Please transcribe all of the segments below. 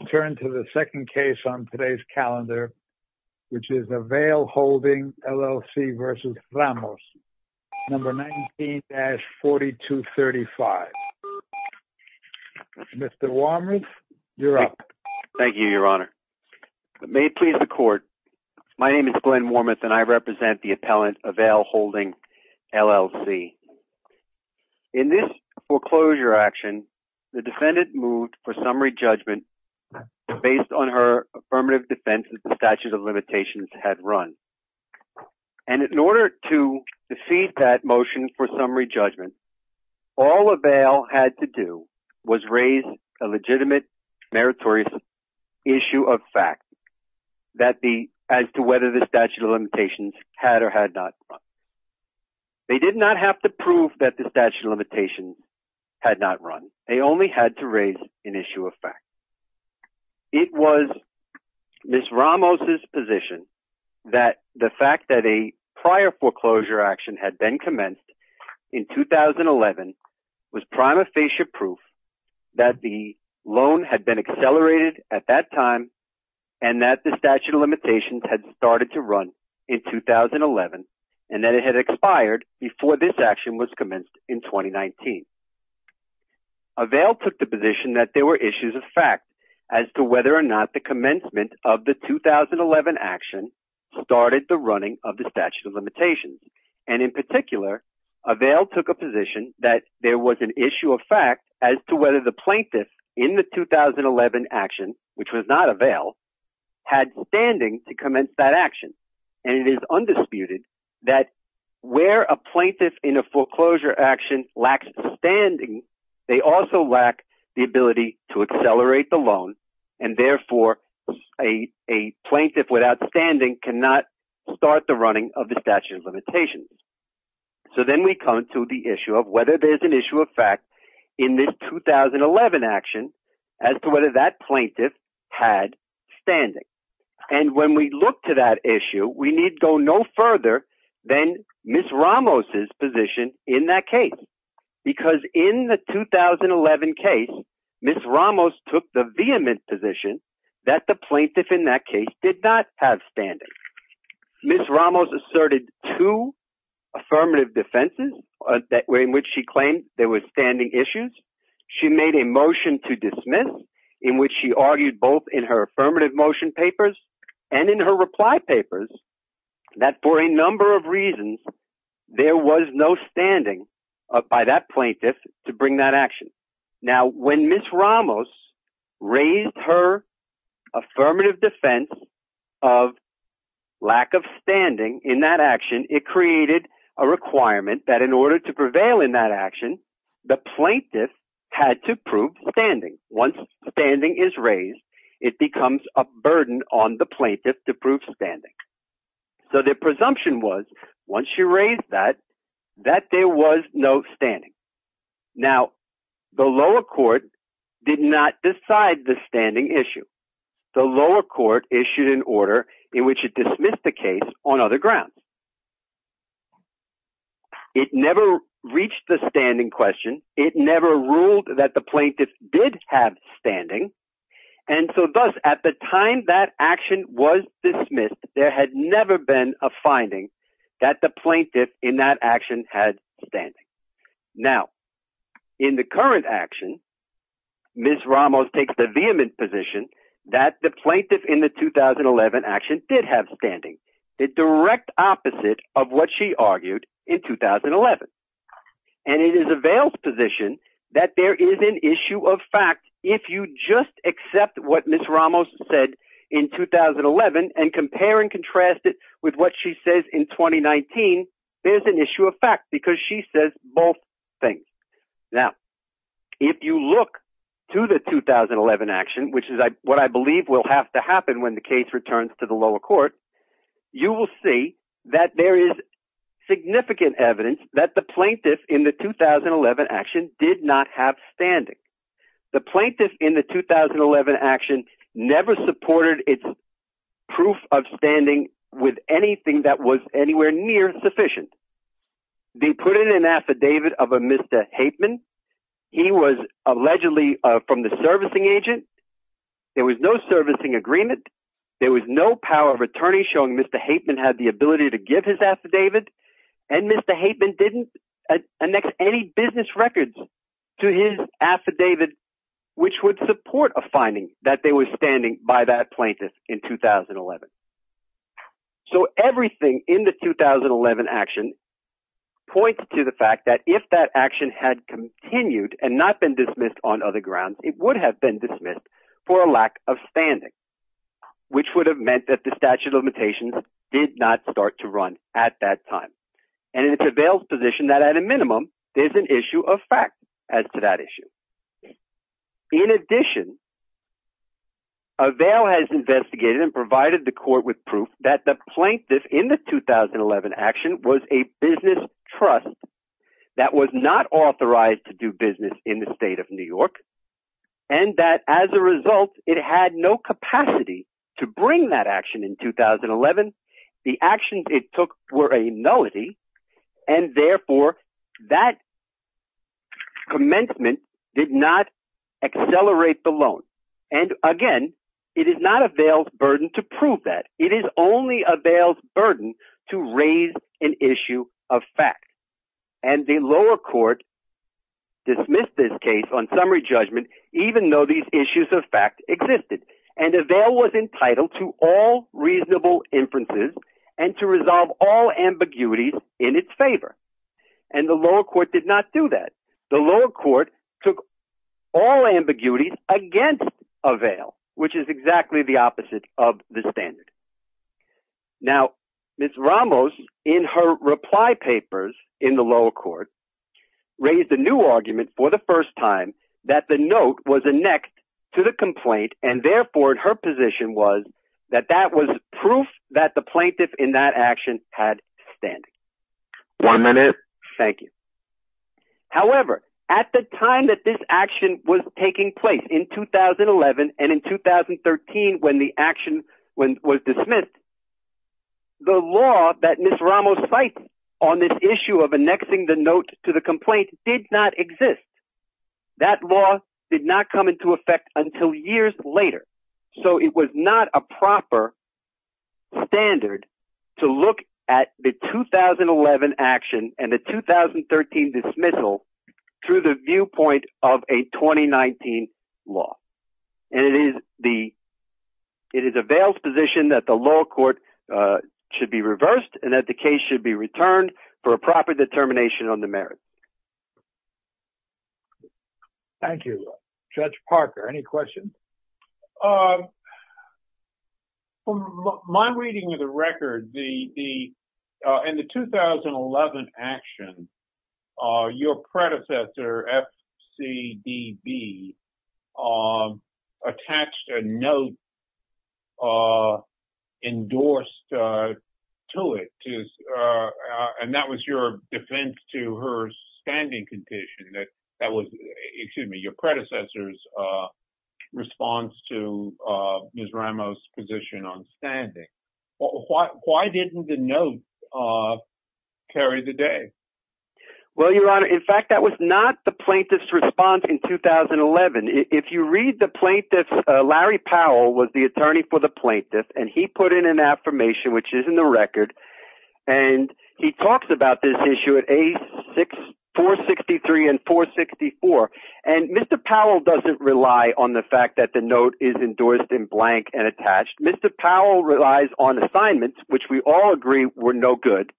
returned to the second case on today's calendar, which is Avail Holding LLC v. Ramos, No. 19-4235. Mr. Wormuth, you're up. Thank you, Your Honor. May it please the court, my name is Glenn Wormuth and I represent the appellant Avail Holding LLC. In this foreclosure action, the defendant moved for summary judgment based on her affirmative defense that the statute of limitations had run. And in order to deceive that motion for summary judgment, all Avail had to do was raise a legitimate meritorious issue of fact as to whether the statute of limitations had or had not run. They did not have to prove that the statute of limitations had not run. They only had to raise an issue of fact. It was Ms. Ramos's position that the fact that a prior foreclosure action had been commenced in 2011 was prima facie proof that the loan had been and that it had expired before this action was commenced in 2019. Avail took the position that there were issues of fact as to whether or not the commencement of the 2011 action started the running of the statute of limitations. And in particular, Avail took a position that there was an issue of fact as to whether the plaintiff in the 2011 action, which was not Avail, had standing to commence that action. And it is undisputed that where a plaintiff in a foreclosure action lacks standing, they also lack the ability to accelerate the loan. And therefore, a plaintiff without standing cannot start the running of the statute of limitations. So then we come to the issue of whether there's an issue of fact in this 2011 action as to whether that plaintiff had standing. And when we look to that issue, we need to go no further than Ms. Ramos's position in that case. Because in the 2011 case, Ms. Ramos took the vehement position that the plaintiff in that case did not have standing. Ms. Ramos asserted two affirmative defenses in which she claimed there was no standing by that plaintiff to bring that action. Now, when Ms. Ramos raised her affirmative defense of lack of standing in that action, it created a requirement that in order to prevail in that case, there was a burden on the plaintiff to prove standing. So the presumption was, once she raised that, that there was no standing. Now, the lower court did not decide the standing issue. The lower court issued an order in which it dismissed the case on other grounds. It never reached the standing question. It never ruled that the plaintiff did have standing. And so thus, at the time that action was dismissed, there had never been a finding that the plaintiff in that action had standing. Now, in the current action, Ms. Ramos takes the vehement position that the plaintiff in the 2011 action did have standing in 2011. And it is a veiled position that there is an issue of fact, if you just accept what Ms. Ramos said in 2011, and compare and contrast it with what she says in 2019, there's an issue of fact, because she says both things. Now, if you look to the 2011 action, which is what I believe will have to happen when the evidence that the plaintiff in the 2011 action did not have standing. The plaintiff in the 2011 action never supported its proof of standing with anything that was anywhere near sufficient. They put in an affidavit of a Mr. Haidtman. He was allegedly from the servicing agent. There was no servicing agreement. There was no power of attorney showing Mr. Haidtman had the ability to give his affidavit. And Mr. Haidtman didn't annex any business records to his affidavit, which would support a finding that they were standing by that plaintiff in 2011. So everything in the 2011 action points to the fact that if that action had continued and not been the statute of limitations did not start to run at that time. And it prevails position that at a minimum, there's an issue of fact as to that issue. In addition, a veil has investigated and provided the court with proof that the plaintiff in the 2011 action was a business trust that was not authorized to do business in the state of New York. And that as a result, it had no capacity to bring that action in 2011. The actions it took were a nullity. And therefore, that commencement did not accelerate the loan. And again, it is not a veil burden to prove that it is only a veil burden to raise an issue of fact. And the lower court dismissed this case on summary judgment, even though these issues of fact existed. And a veil was entitled to all reasonable inferences and to resolve all ambiguities in its favor. And the lower court did not do that. The Ramos in her reply papers in the lower court raised a new argument for the first time that the note was a next to the complaint. And therefore her position was that that was proof that the plaintiff in that action had standing. One minute. Thank you. However, at the Ramos sites on this issue of annexing the note to the complaint did not exist. That law did not come into effect until years later. So it was not a proper standard to look at the 2011 action and the 2013 dismissal through the viewpoint of a 2019 law. And it is the it is a veil position that the lower court should be reversed and that the case should be returned for a proper determination on the merit. Thank you, Judge Parker. Any questions? My reading of the record, the in the 2011 action, your predecessor, FCDB, attached a note endorsed to it. And that was your defense to her standing condition that that was, excuse me, your predecessor's response to Ms. Ramos position on standing. Why didn't the note carry the day? Well, Your Honor, in fact, that was not the plaintiff's response in 2011. If you read the plaintiff, Larry Powell was the attorney for the 463 and 464. And Mr. Powell doesn't rely on the fact that the note is endorsed in blank and attached. Mr. Powell relies on assignments, which we all agree were no good,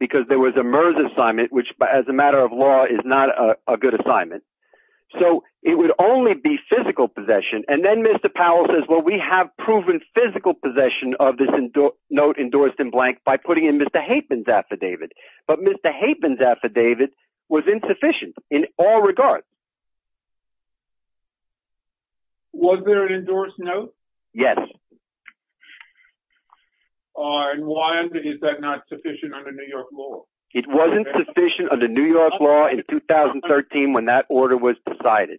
because there was a merge assignment, which, as a matter of law, is not a good assignment. So it would only be physical possession. And then Mr. Powell says, well, we have proven physical possession of this note endorsed in blank by putting in Mr. Haidtman's affidavit. But Mr. Haidtman's affidavit was insufficient in all regards. Was there an endorsed note? Yes. And why is that not sufficient under New York law? It wasn't sufficient under New York law in 2013, when that order was decided.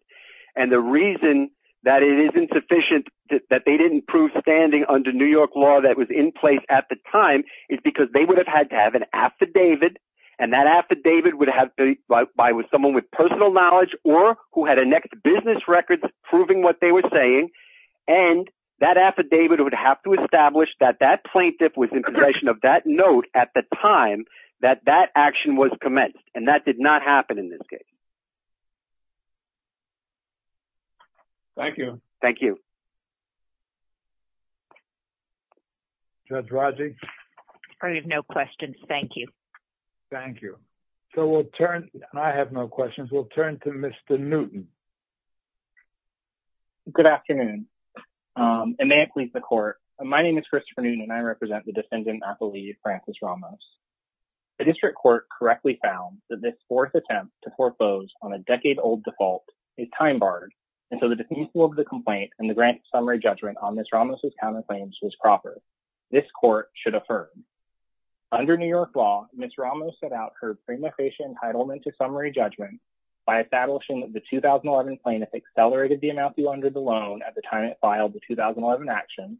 And the reason that it isn't sufficient, that they didn't prove standing under New York law that was in place at the time, is because they would have had to have an affidavit. And that affidavit would have been by someone with personal knowledge or who had a next business record proving what they were saying. And that affidavit would have to establish that that plaintiff was in possession of that note at the time that that action was commenced. And that did not happen in this case. Thank you. Thank you. Judge Raji? I have no questions. Thank you. Thank you. So we'll turn. I have no questions. We'll turn to Mr. Newton. Good afternoon. And may it please the court. My name is Christopher Newton, and I represent the defendant, I believe, Frances Ramos. The district court correctly found that this fourth attempt to foreclose on a decade-old default is time-barred. And so the definition of the complaint and the grant summary judgment on Ms. Ramos' counterclaims was proper. This court should affirm. Under New York law, Ms. Ramos set out her prima facie entitlement to summary judgment by establishing that the 2011 plaintiff accelerated the amount due under the loan at the time it filed the 2011 action,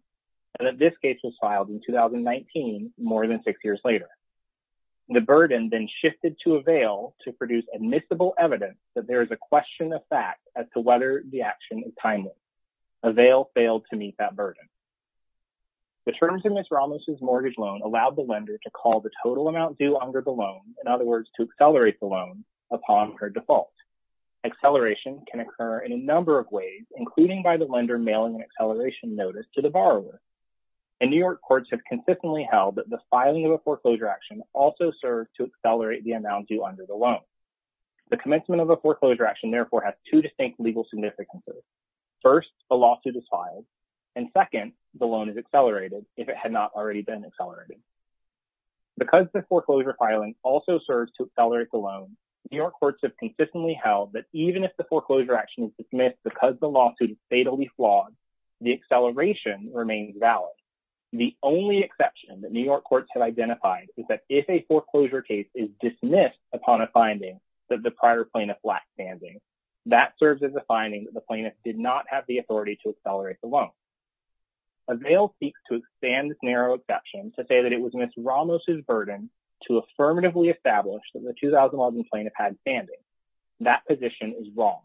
and that this case was filed in 2019, more than six years later. The burden then shifted to avail to produce admissible evidence that there is a question of fact as to whether the action is timely. Avail failed to meet that burden. The terms of Ms. Ramos' mortgage loan allowed the lender to call the total amount due under the loan, in other words, to accelerate the loan upon her default. Acceleration can occur in a number of ways, including by the lender mailing an acceleration notice to the borrower. In New York, courts have consistently held that the filing of a foreclosure action also serves to accelerate the amount due under the loan. The commencement of a foreclosure action, therefore, has two distinct legal significances. First, the lawsuit is filed, and second, the loan is accelerated if it had not already been accelerated. Because the foreclosure filing also serves to accelerate the loan, New York courts have consistently held that even if the foreclosure action is dismissed because the lawsuit is fatally flawed, the acceleration remains valid. The only exception that New York courts have identified is that if a foreclosure case is dismissed upon a finding that the prior plaintiff lacked standing, that serves as a finding that the plaintiff did not have the authority to accelerate the loan. Avail seeks to expand this narrow exception to say that it was Ms. Ramos' burden to affirmatively establish that the 2011 plaintiff had standing. That position is wrong.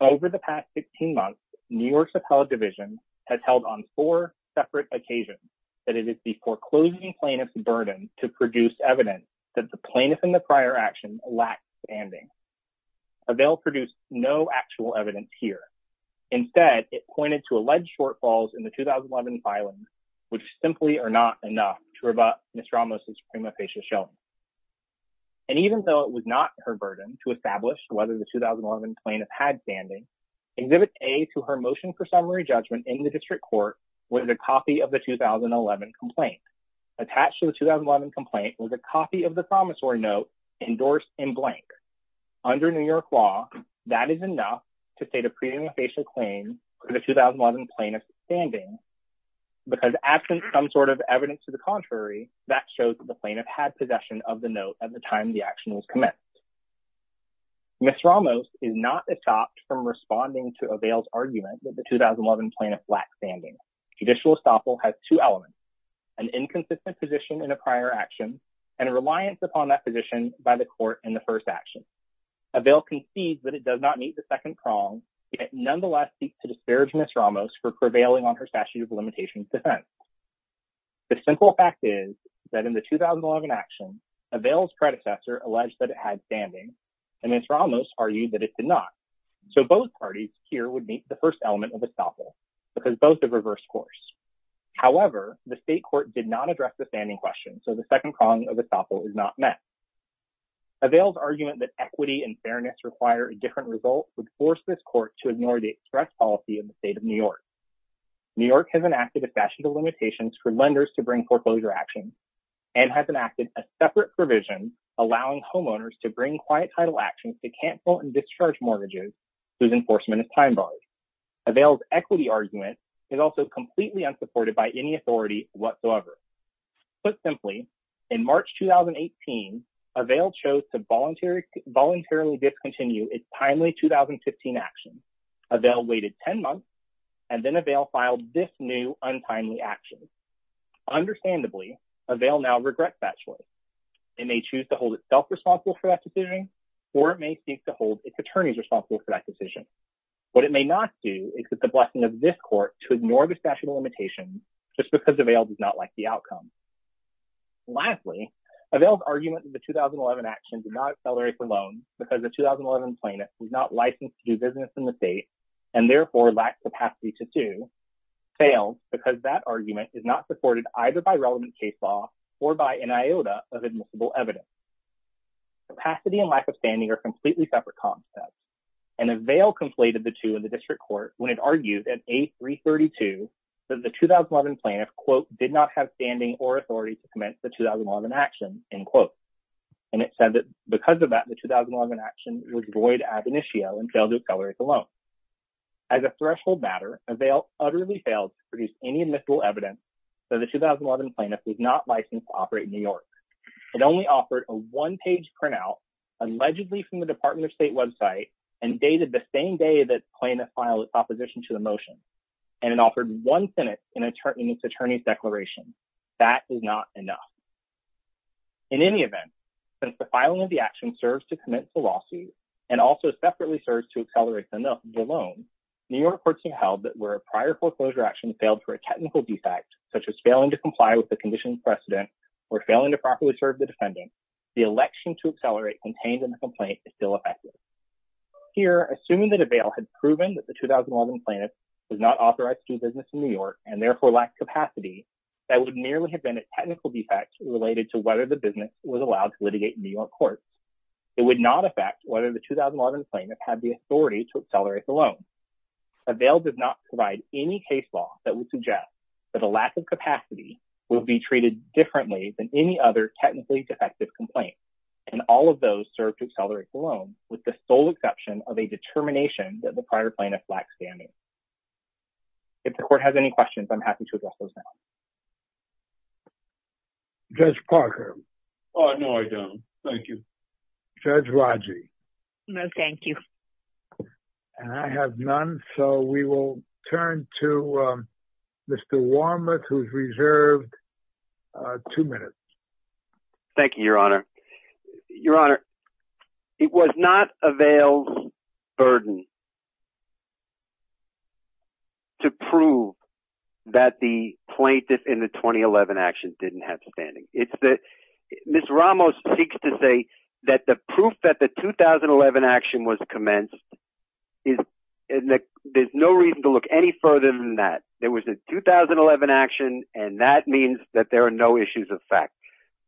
Over the past 16 months, New York's appellate division has held on four separate occasions that it is the foreclosing plaintiff's burden to produce evidence that the plaintiff in the prior action lacked standing. Avail produced no actual evidence here. Instead, it pointed to alleged shortfalls in the 2011 filing, which simply are not enough to rebut Ms. Ramos' prima facie showing. And even though it was not her burden to establish whether the 2011 plaintiff had standing, Exhibit A to her motion for summary judgment in the district court was a copy of the 2011 complaint. Attached to the 2011 complaint was a copy of the promissory note endorsed in blank. Under New York law, that is enough to state a prima facie claim for the 2011 plaintiff's standing. Because absent some sort of evidence to the contrary, that shows that the plaintiff had possession of the note at the time the action was commenced. Ms. Ramos is not stopped from responding to Avail's argument that the 2011 plaintiff lacked standing. Judicial estoppel has two elements. An inconsistent position in a prior action and a reliance upon that position by the court in the first action. Avail concedes that it does not meet the second prong, yet nonetheless seeks to disparage Ms. Ramos for prevailing on her statute of limitations defense. The simple fact is that in the 2011 action, Avail's predecessor alleged that it had standing and Ms. Ramos argued that it did not. So both parties here would meet the first element of estoppel because both have reversed course. However, the state court did not address the standing question, so the second prong of estoppel is not met. Avail's argument that equity and fairness require a different result would force this court to ignore the express policy of the state of New York. New York has enacted a statute of limitations for lenders to bring foreclosure actions and has enacted a separate provision allowing homeowners to bring quiet title actions to cancel and discharge mortgages whose enforcement is time-barred. Avail's equity argument is also completely unsupported by any authority whatsoever. Put simply, in March 2018, Avail chose to voluntarily discontinue its timely 2015 action. Avail waited 10 months and then Avail filed this new untimely action. Understandably, Avail now regrets that choice. It may choose to hold itself responsible for that decision or it may seek to hold its attorneys responsible for that decision. What it may not do is it's a blessing of this court to ignore the statute of limitations just because Avail does not like the outcome. Lastly, Avail's argument that the 2011 action did not accelerate the loan because the 2011 plaintiff was not licensed to do business in the state and therefore lacked capacity to do fails because that argument is not supported either by relevant case law or by an iota of admissible evidence. Capacity and lack of standing are completely separate concepts and Avail conflated the two in the district court when it argued at A332 that the 2011 plaintiff, quote, did not have standing or authority to commence the 2011 action, end quote. And it said that because of that the 2011 action was void ad initio and failed to accelerate the loan. As a threshold matter, Avail utterly failed to produce any admissible evidence that the 2011 plaintiff was not licensed to operate in New York. It only offered a one-page printout, allegedly from the Department of State website, and dated the same day that plaintiff filed its opposition to the motion. And it offered one sentence in its attorney's declaration. That is not enough. In any event, since the filing of the action serves to commence the lawsuit and also separately serves to accelerate the loan, New York courts have held that where a prior foreclosure action failed for a technical defect, such as failing to comply with the conditions precedent or failing to properly serve the defendant, the election to accelerate contained in the complaint is still effective. Here, assuming that Avail had proven that the 2011 plaintiff was not authorized to do business in New York and therefore lacked capacity, that would merely have been a technical defect related to whether the business was allowed to litigate in New York courts. It would not affect whether the 2011 plaintiff had the authority to accelerate the loan. Avail did not provide any case law that would suggest that a lack of capacity will be treated differently than any other technically defective complaint. And all of those serve to accelerate the loan with the sole exception of a determination that the prior plaintiff lacked standing. If the court has any questions, I'm happy to address those now. Judge Parker. Oh, no, I don't. Thank you. Judge Rodger. No, thank you. And I have none, so we will turn to Mr. Warmuth, who's reserved two minutes. Thank you, Your Honor. Your Honor, it was not Avail's burden to prove that the plaintiff in the 2011 action didn't have standing. It's that Ms. Ramos seeks to say that the proof that the 2011 action was commenced is there's no reason to look any further than that. There was a 2011 action and that means that there are no issues of fact.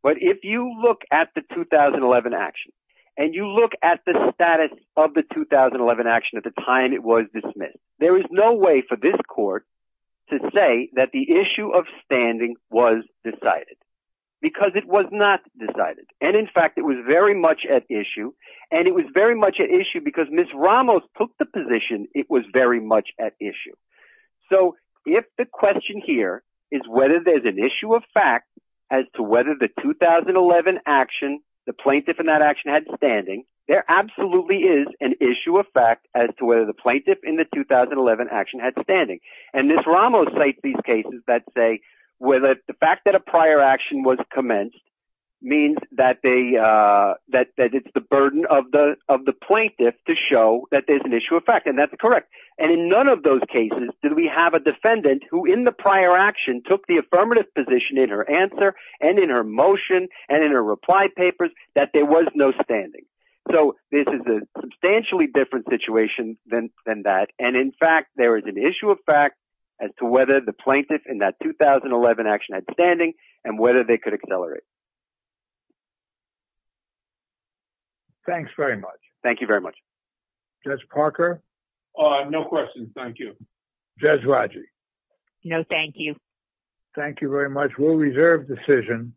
But if you look at the 2011 action and you look at the status of the 2011 action at the time it was dismissed, there is no way for this court to say that the issue of standing was decided. Because it was not decided. And in fact, it was very much at issue. And it was very much at issue because Ms. Ramos took the position it was very much at issue. So if the question here is whether there's an issue of fact as to whether the 2011 action, the plaintiff in that action had standing, there absolutely is an issue of fact as to whether the plaintiff in the Ramos site these cases that say whether the fact that a prior action was commenced means that it's the burden of the plaintiff to show that there's an issue of fact. And that's correct. And in none of those cases did we have a defendant who in the prior action took the affirmative position in her answer and in her motion and in her reply papers that there was no standing. So this is a issue of fact as to whether the plaintiff in that 2011 action had standing and whether they could accelerate. Thanks very much. Thank you very much. Judge Parker? Uh, no questions. Thank you. Judge Raji? No, thank you. Thank you very much. We'll reserve decision.